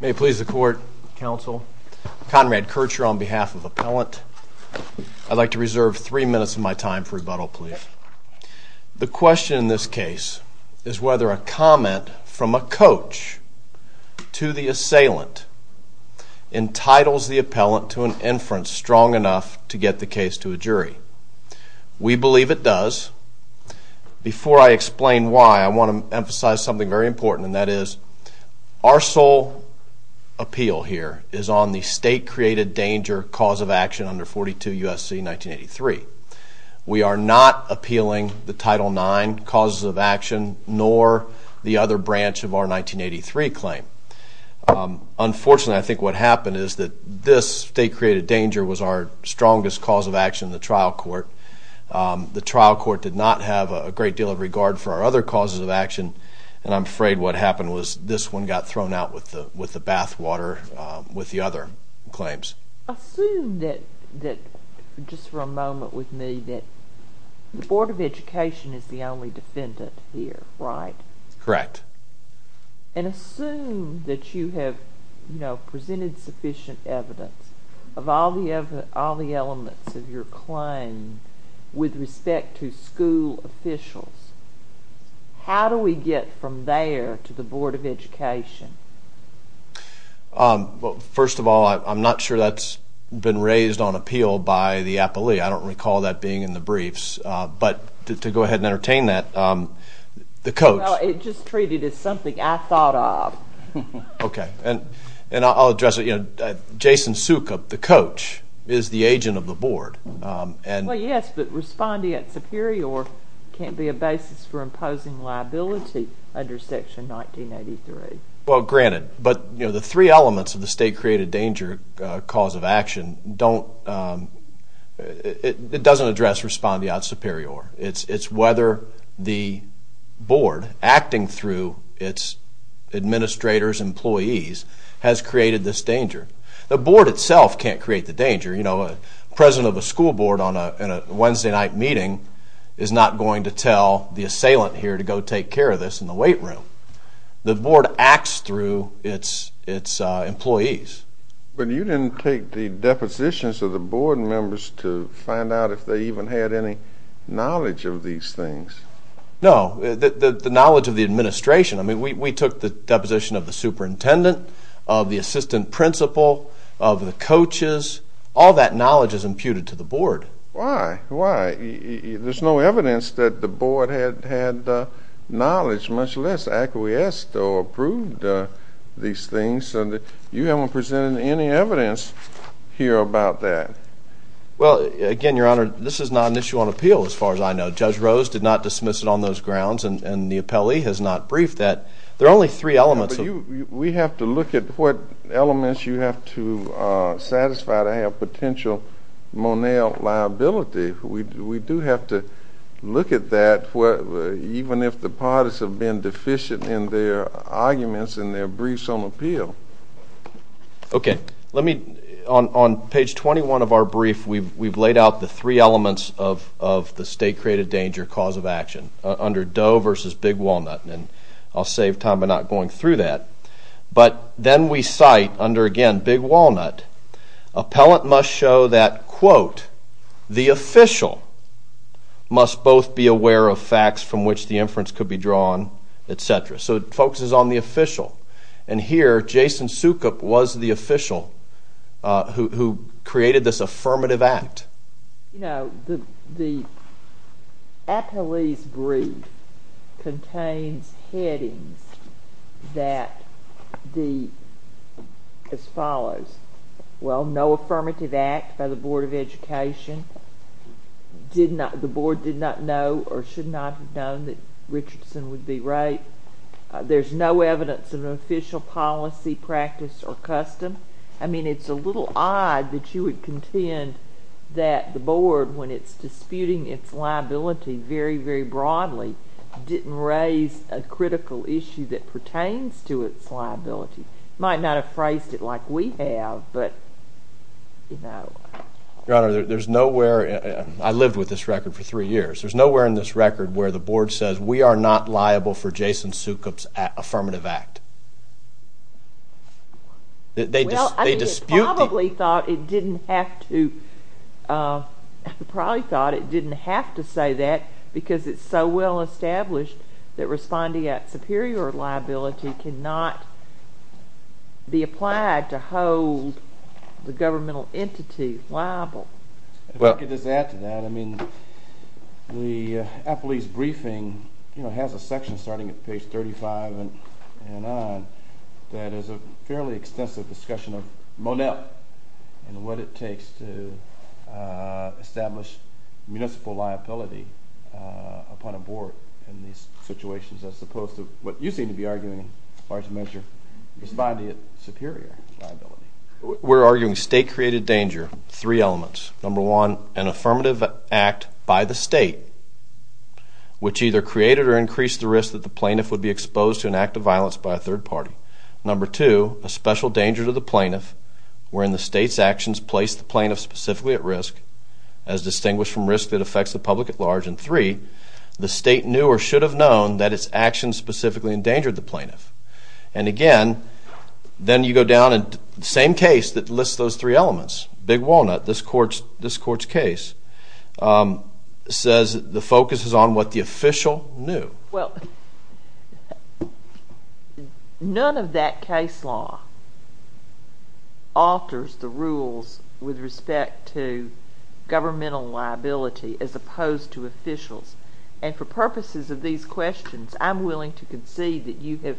May it please the Court, Counsel. Conrad Kircher on behalf of Appellant. I'd like to reserve three minutes of my time for rebuttal, please. The question in this case is whether a comment from a coach to the assailant entitles the appellant to an inference strong enough to get the case to a jury. We believe it does. Before I explain why, I want to emphasize something very important and that is our sole appeal here is on the state created danger cause of action under 42 U.S.C. 1983. We are not appealing the Title IX causes of action nor the other branch of our 1983 claim. Unfortunately, I think what happened is that this state created danger was our strongest cause of action in the trial court. The trial court did not have a great deal of regard for our other causes of action and I'm afraid what happened was this one got thrown out with the with the bathwater with the other claims. Assume that, just for a moment with me, that the Board of Education is the only defendant here, right? Correct. And assume that you have, you know, presented sufficient evidence of all the elements of your claim with respect to school officials. How do we get from there to the Board of Education? Well, first of all, I'm not sure that's been raised on appeal by the appellee. I don't recall that being in the briefs, but to go ahead and entertain that, the coach... Well, it's just treated as something I thought of. Okay, and I'll address it, you know, Jason Sukup, the coach, is the agent of the Board and... Well, yes, but responding at superior can't be a basis for imposing liability under Section 1983. Well, granted, but, you know, the three elements of the state-created danger cause of action don't... it doesn't address responding at superior. It's whether the Board, acting through its administrators, employees, has created this danger. The Board itself can't create the danger. You know, a president of a school board on a Wednesday night meeting is not going to tell the assailant here to go take care of this in the weight room. The Board acts through its employees. But you didn't take the depositions of the Board members to find out if they even had any knowledge of these things. No, the knowledge of the administration. I mean, we took the deposition of the superintendent, of the assistant principal, of the coaches. All that knowledge is imputed to the Board. Why? Why? There's no evidence that the Board had knowledge, much less acquiesced or approved these things. You haven't presented any evidence here about that. Well, again, Your Honor, this is not an issue on appeal, as far as I know. Judge Rose did not dismiss it on those grounds, and the appellee has not briefed that. There are only three elements of... We have to look at what elements you have to satisfy to have potential Monell liability. We do have to look at that, even if the parties have been deficient in their arguments and their briefs on appeal. Okay, let me... On page 21 of our brief, we've laid out the three elements of the state-created danger cause of action under Doe versus Big Walnut, and I'll save time by not going through that. But then we cite, under, again, Big Walnut, appellant must show that, quote, the official must both be aware of facts from which the inference could be drawn, etc. So it focuses on the official, and here, Jason Soukup was the official who created this affirmative act. You know, the appellee's brief contains headings that the—as follows. Well, no affirmative act by the Board of Education. Did not—the board did not know or should not have known that Richardson would be raped. There's no evidence of an official policy, practice, or custom. I mean, it's a little odd that you would contend that the board, when it's disputing its liability very, very broadly, didn't raise a critical issue that pertains to its liability. It might not have phrased it like we have, but, you know... Your Honor, there's nowhere—I lived with this record for three years—there's nowhere in this record where the board says, we are not liable for Jason Soukup's affirmative act. Well, I mean, it probably thought it didn't have to—it probably thought it didn't have to say that because it's so well established that responding act superior liability cannot be applied to hold the governmental entity liable. If I could just add to that, I mean, the appellee's briefing, you know, has a section starting at page 35 and on that is a fairly extensive discussion of Monet and what it takes to establish municipal liability upon a board in these situations as opposed to what you seem to be arguing in large measure, responding act superior liability. We're arguing state-created danger, three elements. Number one, an affirmative act by the state which either created or increased the risk that the plaintiff would be exposed to an act of violence by a third party. Number two, a special danger to the plaintiff wherein the state's actions placed the plaintiff specifically at risk as distinguished from risk that affects the public at large. And three, the state knew or should have known that its actions specifically endangered the plaintiff. And again, then you go down and the same case that lists those three elements, Big Walnut, this court's case, says the focus is on what the official knew. Well, none of that case law alters the rules with respect to governmental liability as opposed to officials. And for purposes of these questions, I'm willing to concede that you have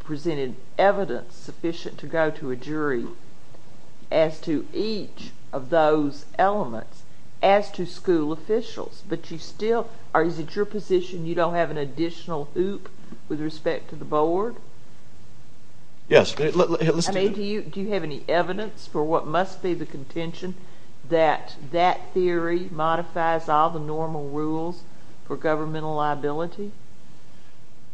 presented evidence sufficient to go to a jury as to each of those elements as to school officials. But you still, or is it your position you don't have an additional hoop with respect to the board? Yes. I mean, do you have any evidence for what must be the contention that that theory modifies all the normal rules for governmental liability?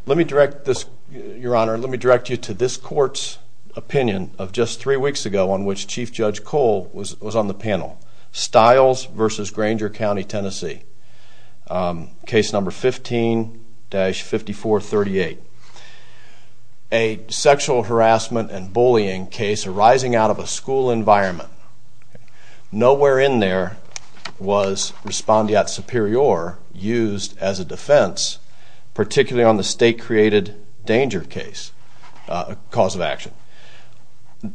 Let me direct this, Your Honor, let me direct you to this court's opinion of just three weeks ago on which Chief Judge Cole was on the panel. Stiles v. Granger County, Tennessee, case number 15-5438. A sexual harassment and bullying case arising out of a school environment. Nowhere in there was respondeat superior used as a defense, particularly on the state-created danger case, cause of action.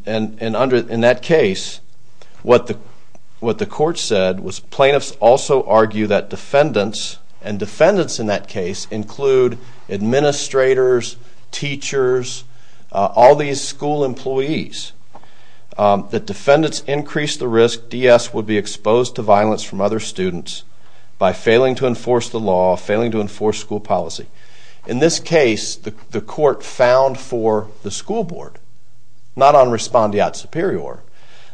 And in that case, what the court said was plaintiffs also argue that defendants, and defendants in that case include administrators, teachers, all these school employees, that defendants increased the risk DS would be exposed to violence from other students by failing to enforce the law, failing to enforce school policy. In this case, the court found for the school board, not on respondeat superior,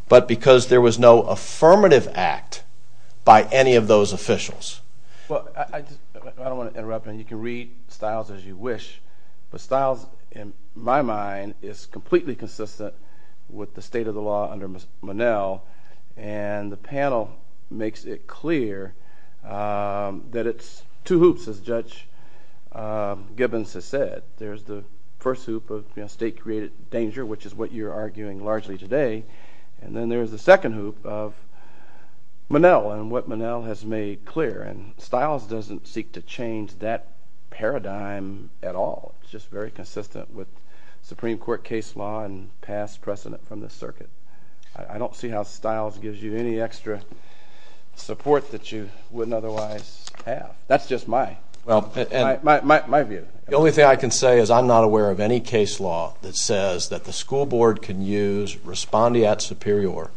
but because there was no affirmative act by any of those officials. Well, I don't want to interrupt, and you can read Stiles as you wish, but Stiles, in my mind, is completely consistent with the state of the law under Monell, and the panel makes it clear that it's two hoops, as Judge Gibbons has said. There's the first hoop of state-created danger, which is what you're arguing largely today, and then there's the second hoop of Monell and what Monell has made clear. And Stiles doesn't seek to change that paradigm at all. It's just very consistent with Supreme Court case law and past precedent from the circuit. I don't see how Stiles gives you any extra support that you wouldn't otherwise have. That's just my view. The only thing I can say is I'm not aware of any case law that says that the school board can use respondeat superior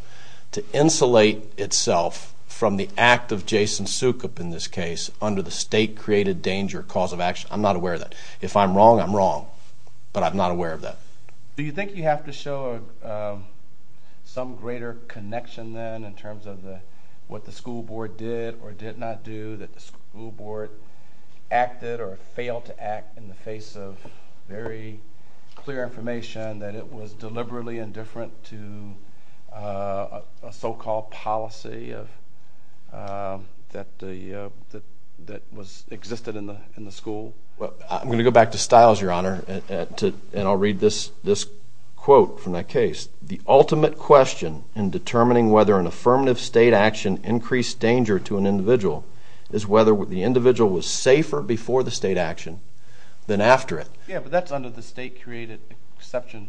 to insulate itself from the act of Jason Sukup in this case under the state-created danger cause of action. I'm not aware of that. If I'm wrong, I'm wrong, but I'm not aware of that. Do you think you have to show some greater connection then in terms of what the school board did or did not do, that the school board acted or failed to act in the face of very clear information, that it was deliberately indifferent to a so-called policy that existed in the school? I'm going to go back to Stiles, Your Honor, and I'll read this quote from that case. The ultimate question in determining whether an affirmative state action increased danger to an individual is whether the individual was safer before the state action than after it. Yeah, but that's under the state-created exception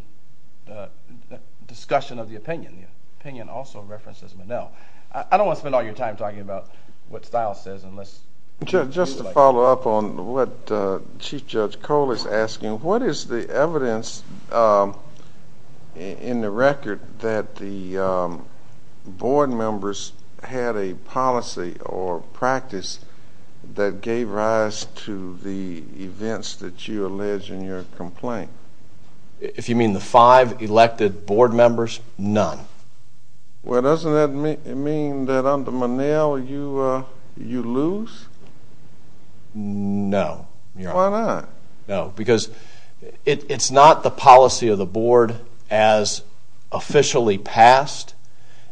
discussion of the opinion. The opinion also references Monell. I don't want to spend all your time talking about what Stiles says unless… Just to follow up on what Chief Judge Cole is asking, what is the evidence in the record that the board members had a policy or practice that gave rise to the events that you allege in your complaint? If you mean the five elected board members, none. Well, doesn't that mean that under Monell you lose? No, Your Honor. Why not? No, because it's not the policy of the board as officially passed.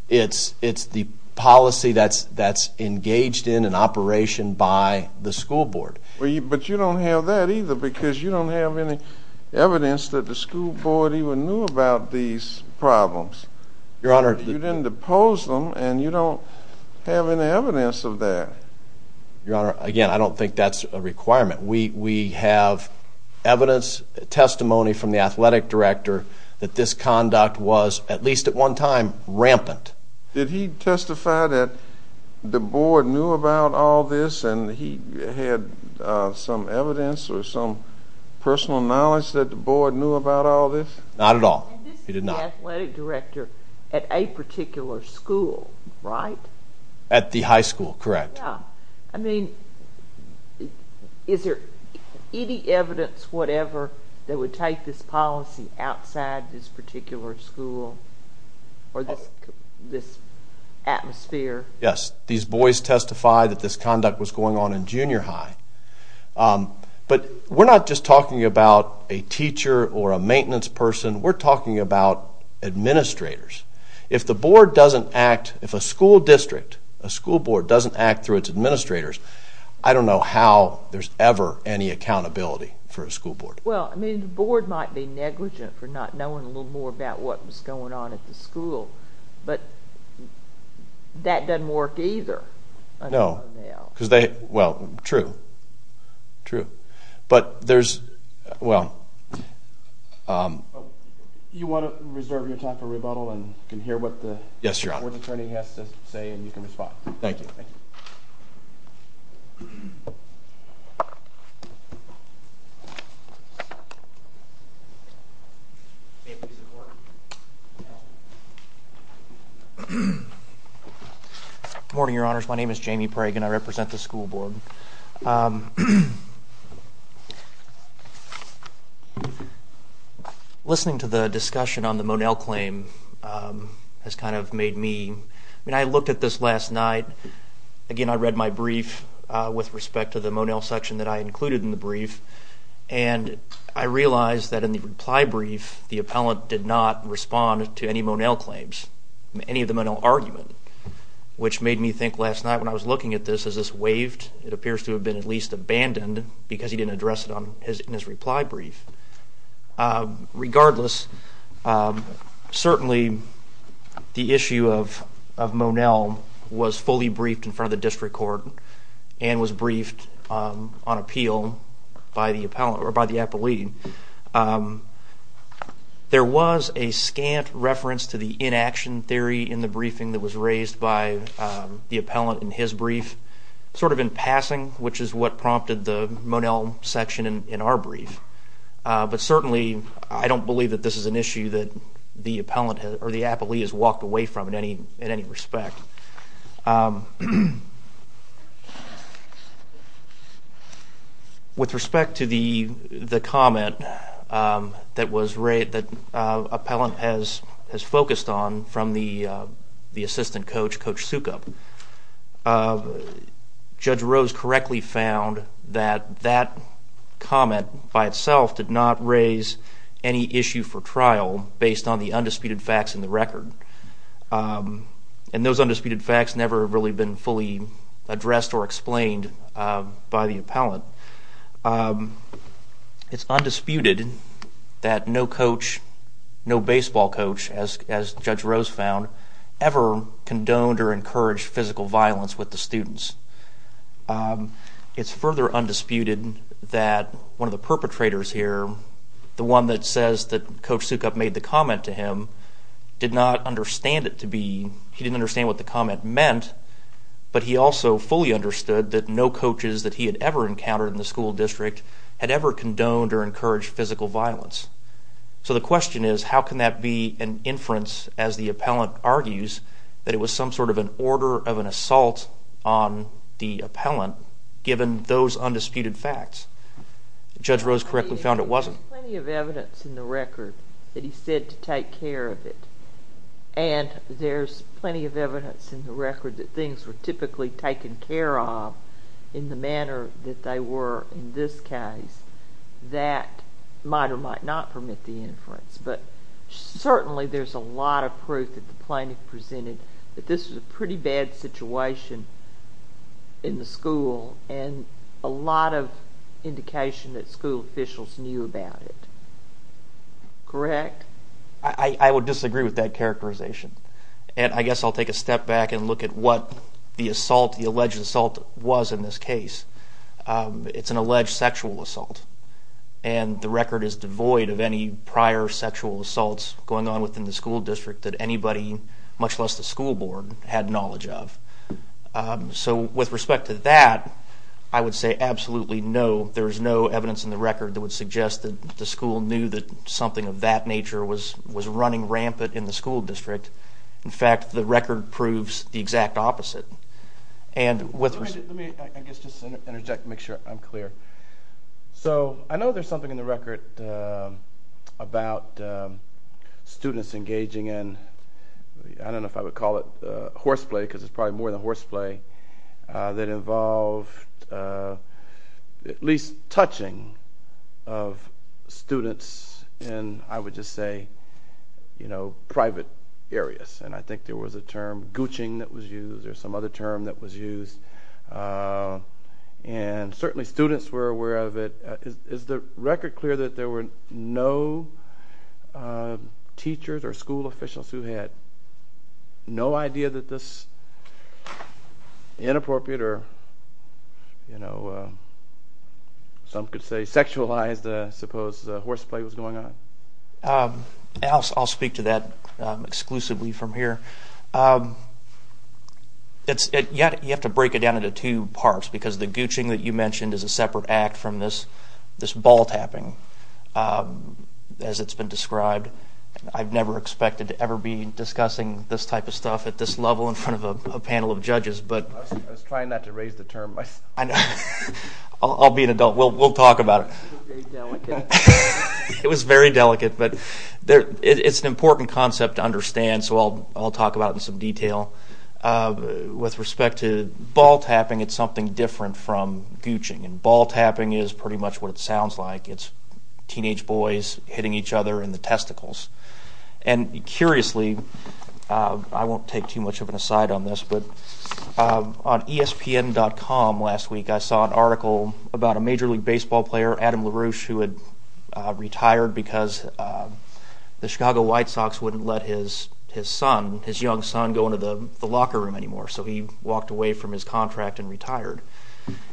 It's the policy that's engaged in an operation by the school board. But you don't have that either because you don't have any evidence that the school board even knew about these problems. Your Honor… You didn't depose them, and you don't have any evidence of that. Your Honor, again, I don't think that's a requirement. We have evidence, testimony from the athletic director that this conduct was, at least at one time, rampant. Did he testify that the board knew about all this, and he had some evidence or some personal knowledge that the board knew about all this? Not at all. He did not. And this is the athletic director at a particular school, right? At the high school, correct. I mean, is there any evidence, whatever, that would take this policy outside this particular school or this atmosphere? Yes. These boys testified that this conduct was going on in junior high. But we're not just talking about a teacher or a maintenance person. We're talking about administrators. If the board doesn't act, if a school district, a school board, doesn't act through its administrators, I don't know how there's ever any accountability for a school board. Well, I mean, the board might be negligent for not knowing a little more about what was going on at the school. But that doesn't work either. No. Well, true. True. But there's, well… You want to reserve your time for rebuttal, and you can hear what the board's attorney has to say, and you can respond. Thank you. Good morning, Your Honors. My name is Jamie Pragen. I represent the school board. Listening to the discussion on the Monell claim has kind of made me, I mean, I looked at this last night. Again, I read my brief with respect to the Monell section that I included in the brief, and I realized that in the reply brief, the appellant did not respond to any Monell claims, any of the Monell argument, which made me think last night when I was looking at this, is this waived? It appears to have been at least abandoned because he didn't address it in his reply brief. Regardless, certainly the issue of Monell was fully briefed in front of the district court and was briefed on appeal by the appellant or by the appellee. There was a scant reference to the inaction theory in the briefing that was raised by the appellant in his brief, sort of in passing, which is what prompted the Monell section in our brief. But certainly, I don't believe that this is an issue that the appellee has walked away from in any respect. With respect to the comment that appellant has focused on from the assistant coach, Coach Sukup, Judge Rose correctly found that that comment by itself did not raise any issue for trial based on the undisputed facts in the record. And those undisputed facts never really been fully addressed or explained by the appellant. It's undisputed that no coach, no baseball coach, as Judge Rose found, ever condoned or encouraged physical violence with the students. It's further undisputed that one of the perpetrators here, the one that says that Coach Sukup made the comment to him, did not understand it to be, he didn't understand what the comment meant, but he also fully understood that no coaches that he had ever encountered in the school district had ever condoned or encouraged physical violence. So the question is, how can that be an inference as the appellant argues that it was some sort of an order of an assault on the appellant given those undisputed facts? Judge Rose correctly found it wasn't. There's plenty of evidence in the record that he said to take care of it, and there's plenty of evidence in the record that things were typically taken care of in the manner that they were in this case. That might or might not permit the inference, but certainly there's a lot of proof that the plaintiff presented that this was a pretty bad situation in the school and a lot of indication that school officials knew about it. Correct? I would disagree with that characterization, and I guess I'll take a step back and look at what the alleged assault was in this case. It's an alleged sexual assault, and the record is devoid of any prior sexual assaults going on within the school district that anybody, much less the school board, had knowledge of. So with respect to that, I would say absolutely no. There is no evidence in the record that would suggest that the school knew that something of that nature was running rampant in the school district. In fact, the record proves the exact opposite. Let me, I guess, just interject to make sure I'm clear. So I know there's something in the record about students engaging in, I don't know if I would call it horseplay because it's probably more than horseplay, that involved at least touching of students in, I would just say, private areas, and I think there was a term, gooching, that was used or some other term that was used, and certainly students were aware of it. Is the record clear that there were no teachers or school officials who had no idea that this inappropriate or, you know, some could say sexualized, I suppose, horseplay was going on? I'll speak to that exclusively from here. You have to break it down into two parts because the gooching that you mentioned is a separate act from this ball tapping, as it's been described. I've never expected to ever be discussing this type of stuff at this level in front of a panel of judges. I was trying not to raise the term myself. I know. I'll be an adult. We'll talk about it. It was very delicate. It was very delicate, but it's an important concept to understand, so I'll talk about it in some detail. With respect to ball tapping, it's something different from gooching, and ball tapping is pretty much what it sounds like. It's teenage boys hitting each other in the testicles. And curiously, I won't take too much of an aside on this, but on ESPN.com last week I saw an article about a Major League Baseball player, Adam LaRouche, who had retired because the Chicago White Sox wouldn't let his son, his young son, go into the locker room anymore. So he walked away from his contract and retired.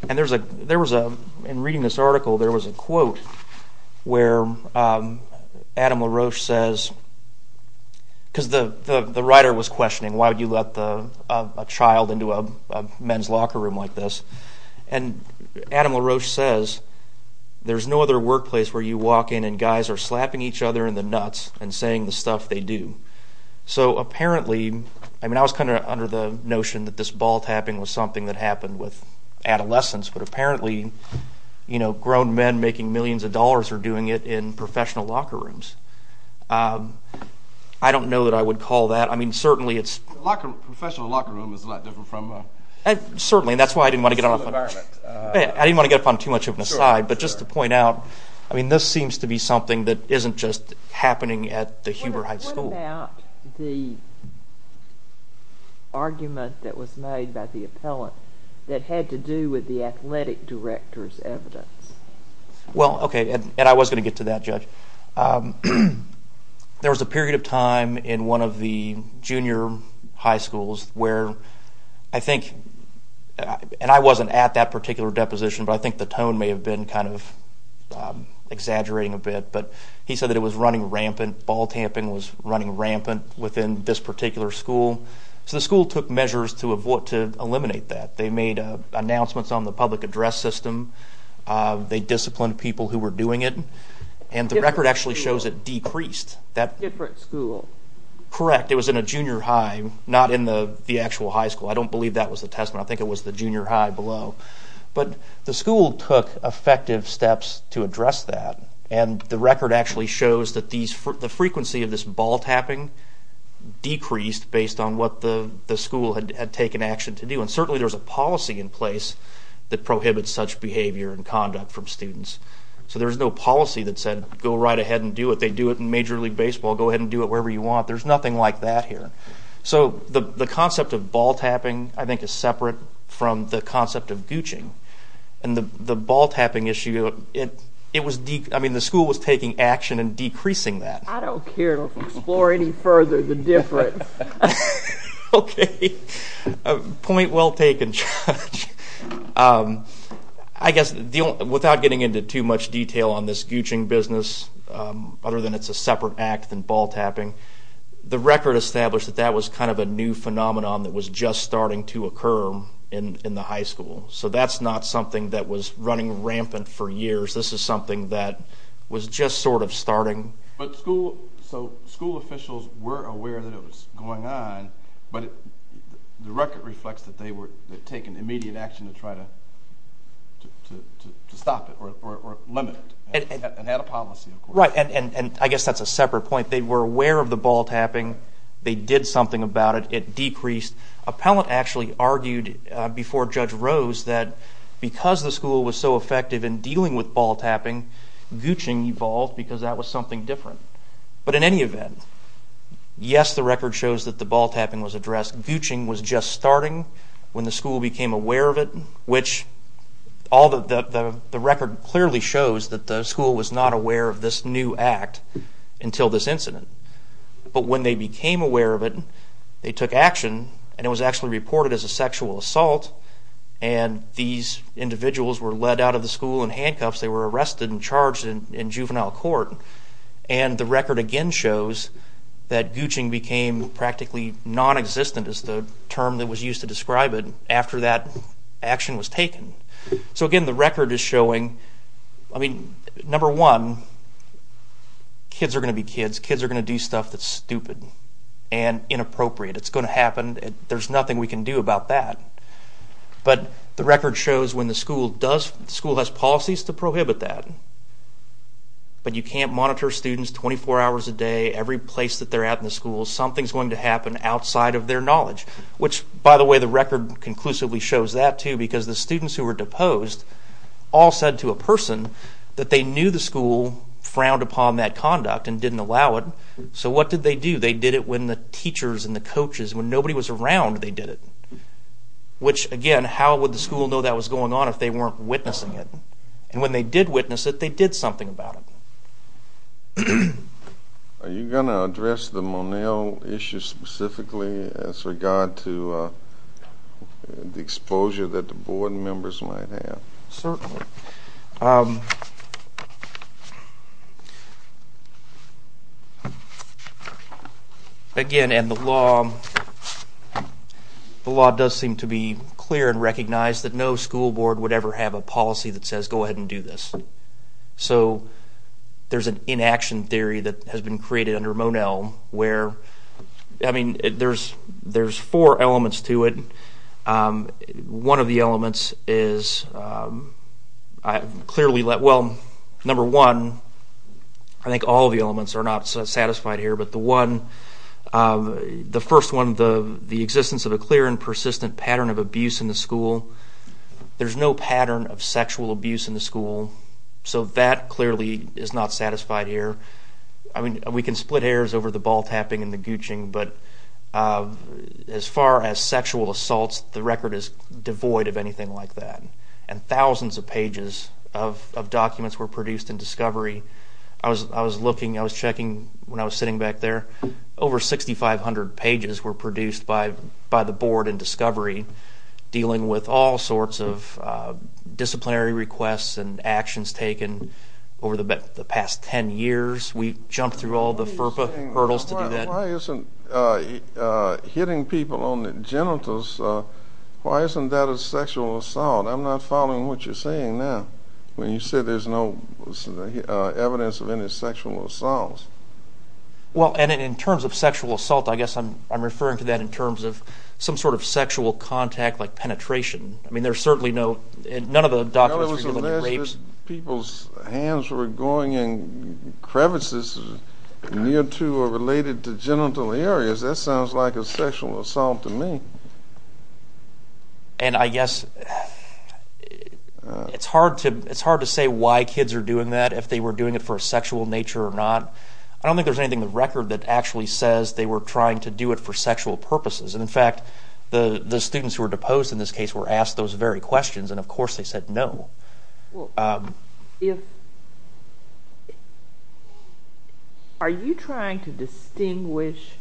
And in reading this article there was a quote where Adam LaRouche says, because the writer was questioning why would you let a child into a men's locker room like this, and Adam LaRouche says, there's no other workplace where you walk in and guys are slapping each other in the nuts and saying the stuff they do. So apparently, I mean I was kind of under the notion that this ball tapping was something that happened with adolescents, but apparently grown men making millions of dollars are doing it in professional locker rooms. I don't know that I would call that. I mean certainly it's... A professional locker room is a lot different from a... Certainly, and that's why I didn't want to get on too much of an aside, but just to point out, I mean this seems to be something that isn't just happening at the Huber Heights School. What about the argument that was made by the appellant that had to do with the athletic director's evidence? Well, okay, and I was going to get to that, Judge. There was a period of time in one of the junior high schools where I think, and I wasn't at that particular deposition, but I think the tone may have been kind of exaggerating a bit, but he said that it was running rampant, ball tapping was running rampant within this particular school. So the school took measures to avoid, to eliminate that. They made announcements on the public address system. They disciplined people who were doing it, and the record actually shows it decreased. Different school. Correct. It was in a junior high, not in the actual high school. I don't believe that was the testament. I think it was the junior high below, but the school took effective steps to address that, and the record actually shows that the frequency of this ball tapping decreased based on what the school had taken action to do, and certainly there's a policy in place that prohibits such behavior and conduct from students. So there's no policy that said go right ahead and do it. They do it in Major League Baseball. Go ahead and do it wherever you want. There's nothing like that here. So the concept of ball tapping I think is separate from the concept of gooching, and the ball tapping issue, I mean the school was taking action and decreasing that. I don't care to explore any further the difference. Okay. Point well taken, Judge. I guess without getting into too much detail on this gooching business, other than it's a separate act than ball tapping, the record established that that was kind of a new phenomenon that was just starting to occur in the high school. So that's not something that was running rampant for years. This is something that was just sort of starting. So school officials were aware that it was going on, but the record reflects that they were taking immediate action to try to stop it or limit it, and had a policy, of course. Right, and I guess that's a separate point. They were aware of the ball tapping. They did something about it. It decreased. Appellant actually argued before Judge Rose that because the school was so effective in dealing with ball tapping, gooching evolved because that was something different. But in any event, yes, the record shows that the ball tapping was addressed. Gooching was just starting when the school became aware of it, which the record clearly shows that the school was not aware of this new act until this incident. But when they became aware of it, they took action, and it was actually reported as a sexual assault, and these individuals were led out of the school in handcuffs. They were arrested and charged in juvenile court. And the record again shows that gooching became practically nonexistent, is the term that was used to describe it, after that action was taken. So again, the record is showing, I mean, number one, kids are going to be kids. Kids are going to do stuff that's stupid and inappropriate. It's going to happen. There's nothing we can do about that. But the record shows when the school has policies to prohibit that, but you can't monitor students 24 hours a day every place that they're at in the school. Something's going to happen outside of their knowledge, which, by the way, the record conclusively shows that too because the students who were deposed all said to a person that they knew the school frowned upon that conduct and didn't allow it. So what did they do? They did it when the teachers and the coaches, when nobody was around, they did it. Which, again, how would the school know that was going on if they weren't witnessing it? And when they did witness it, they did something about it. Are you going to address the Monell issue specifically as regard to the exposure that the board members might have? Certainly. Again, and the law does seem to be clear and recognize that no school board would ever have a policy that says go ahead and do this. So there's an inaction theory that has been created under Monell where, I mean, there's four elements to it. One of the elements is clearly, well, number one, I think all of the elements are not satisfied here, but the one, the first one, the existence of a clear and persistent pattern of abuse in the school. There's no pattern of sexual abuse in the school. So that clearly is not satisfied here. I mean, we can split hairs over the ball tapping and the gooching, but as far as sexual assaults, the record is devoid of anything like that. And thousands of pages of documents were produced in discovery. I was looking, I was checking when I was sitting back there. Over 6,500 pages were produced by the board in discovery, dealing with all sorts of disciplinary requests and actions taken over the past 10 years. We jumped through all the FERPA hurdles to do that. Why isn't hitting people on the genitals, why isn't that a sexual assault? I'm not following what you're saying now when you say there's no evidence of any sexual assaults. Well, and in terms of sexual assault, I guess I'm referring to that in terms of some sort of sexual contact like penetration. I mean, there's certainly no, none of the documents were dealing with rapes. People's hands were going in crevices near to or related to genital areas. That sounds like a sexual assault to me. And I guess it's hard to say why kids are doing that, if they were doing it for a sexual nature or not. I don't think there's anything in the record that actually says they were trying to do it for sexual purposes. And, in fact, the students who were deposed in this case were asked those very questions, and, of course, they said no. Are you trying to distinguish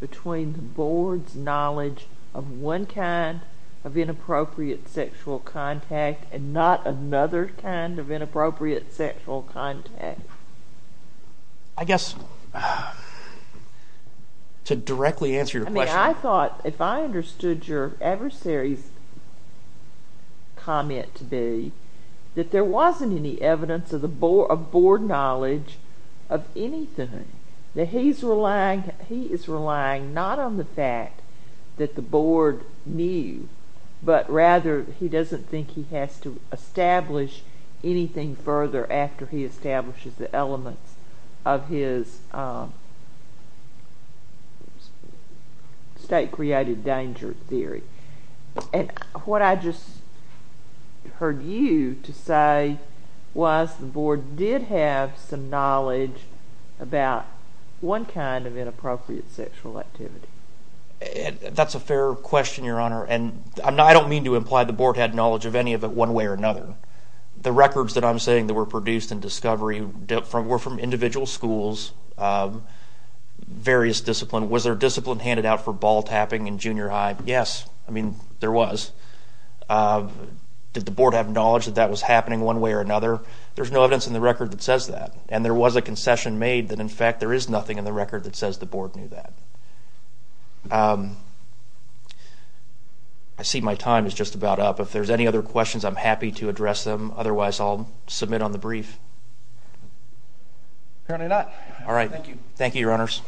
between the board's knowledge of one kind of inappropriate sexual contact and not another kind of inappropriate sexual contact? I guess, to directly answer your question. I thought if I understood your adversary's comment to be that there wasn't any evidence of board knowledge of anything, that he is relying not on the fact that the board knew, but rather he doesn't think he has to establish anything further after he establishes the elements of his state-created danger theory. And what I just heard you to say was the board did have some knowledge about one kind of inappropriate sexual activity. That's a fair question, Your Honor, and I don't mean to imply the board had knowledge of any of it one way or another. The records that I'm saying that were produced in discovery were from individual schools, various discipline. Was there discipline handed out for ball tapping in junior high? Yes, I mean, there was. Did the board have knowledge that that was happening one way or another? There's no evidence in the record that says that. And there was a concession made that, in fact, there is nothing in the record that says the board knew that. I see my time is just about up. If there's any other questions, I'm happy to address them. Otherwise, I'll submit on the brief. Apparently not. All right. Thank you, Your Honors.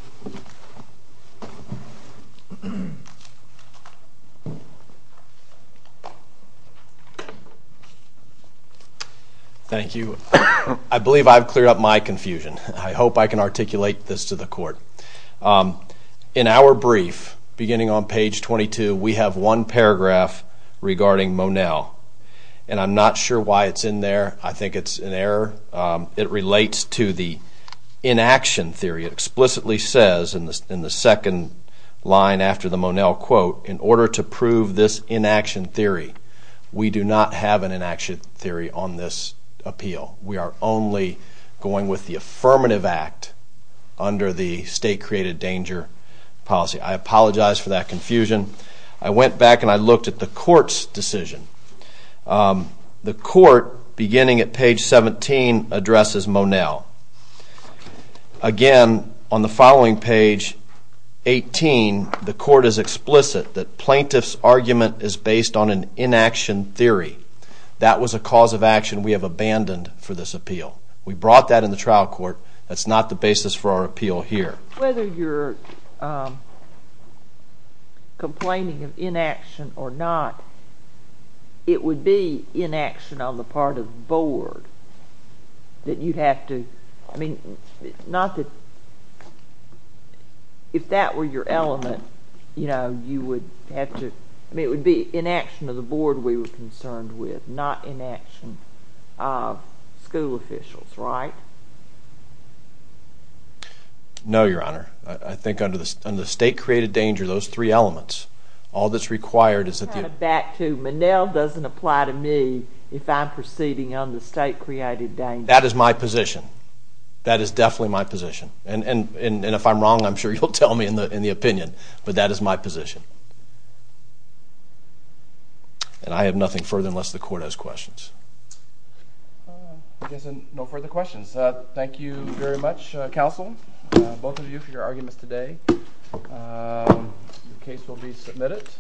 Thank you. I believe I've cleared up my confusion. I hope I can articulate this to the Court. In our brief, beginning on page 22, we have one paragraph regarding Monell. And I'm not sure why it's in there. I think it's an error. It relates to the inaction theory. It explicitly says in the second line after the Monell quote, in order to prove this inaction theory, we do not have an inaction theory on this appeal. We are only going with the affirmative act under the state created danger policy. I apologize for that confusion. I went back and I looked at the Court's decision. The Court, beginning at page 17, addresses Monell. Again, on the following page, 18, the Court is explicit that plaintiff's argument is based on an inaction theory. That was a cause of action we have abandoned for this appeal. We brought that in the trial court. That's not the basis for our appeal here. Whether you're complaining of inaction or not, it would be inaction on the part of the Board that you have to, I mean, not that, if that were your element, you know, you would have to, I mean, it would be inaction of the Board we were concerned with, not inaction of school officials, right? No, Your Honor. I think under the state created danger, those three elements, all that's required is that you Back to Monell doesn't apply to me if I'm proceeding under the state created danger. That is my position. That is definitely my position. And if I'm wrong, I'm sure you'll tell me in the opinion, but that is my position. And I have nothing further unless the Court has questions. I guess no further questions. Thank you very much, counsel, both of you for your arguments today. The case will be submitted.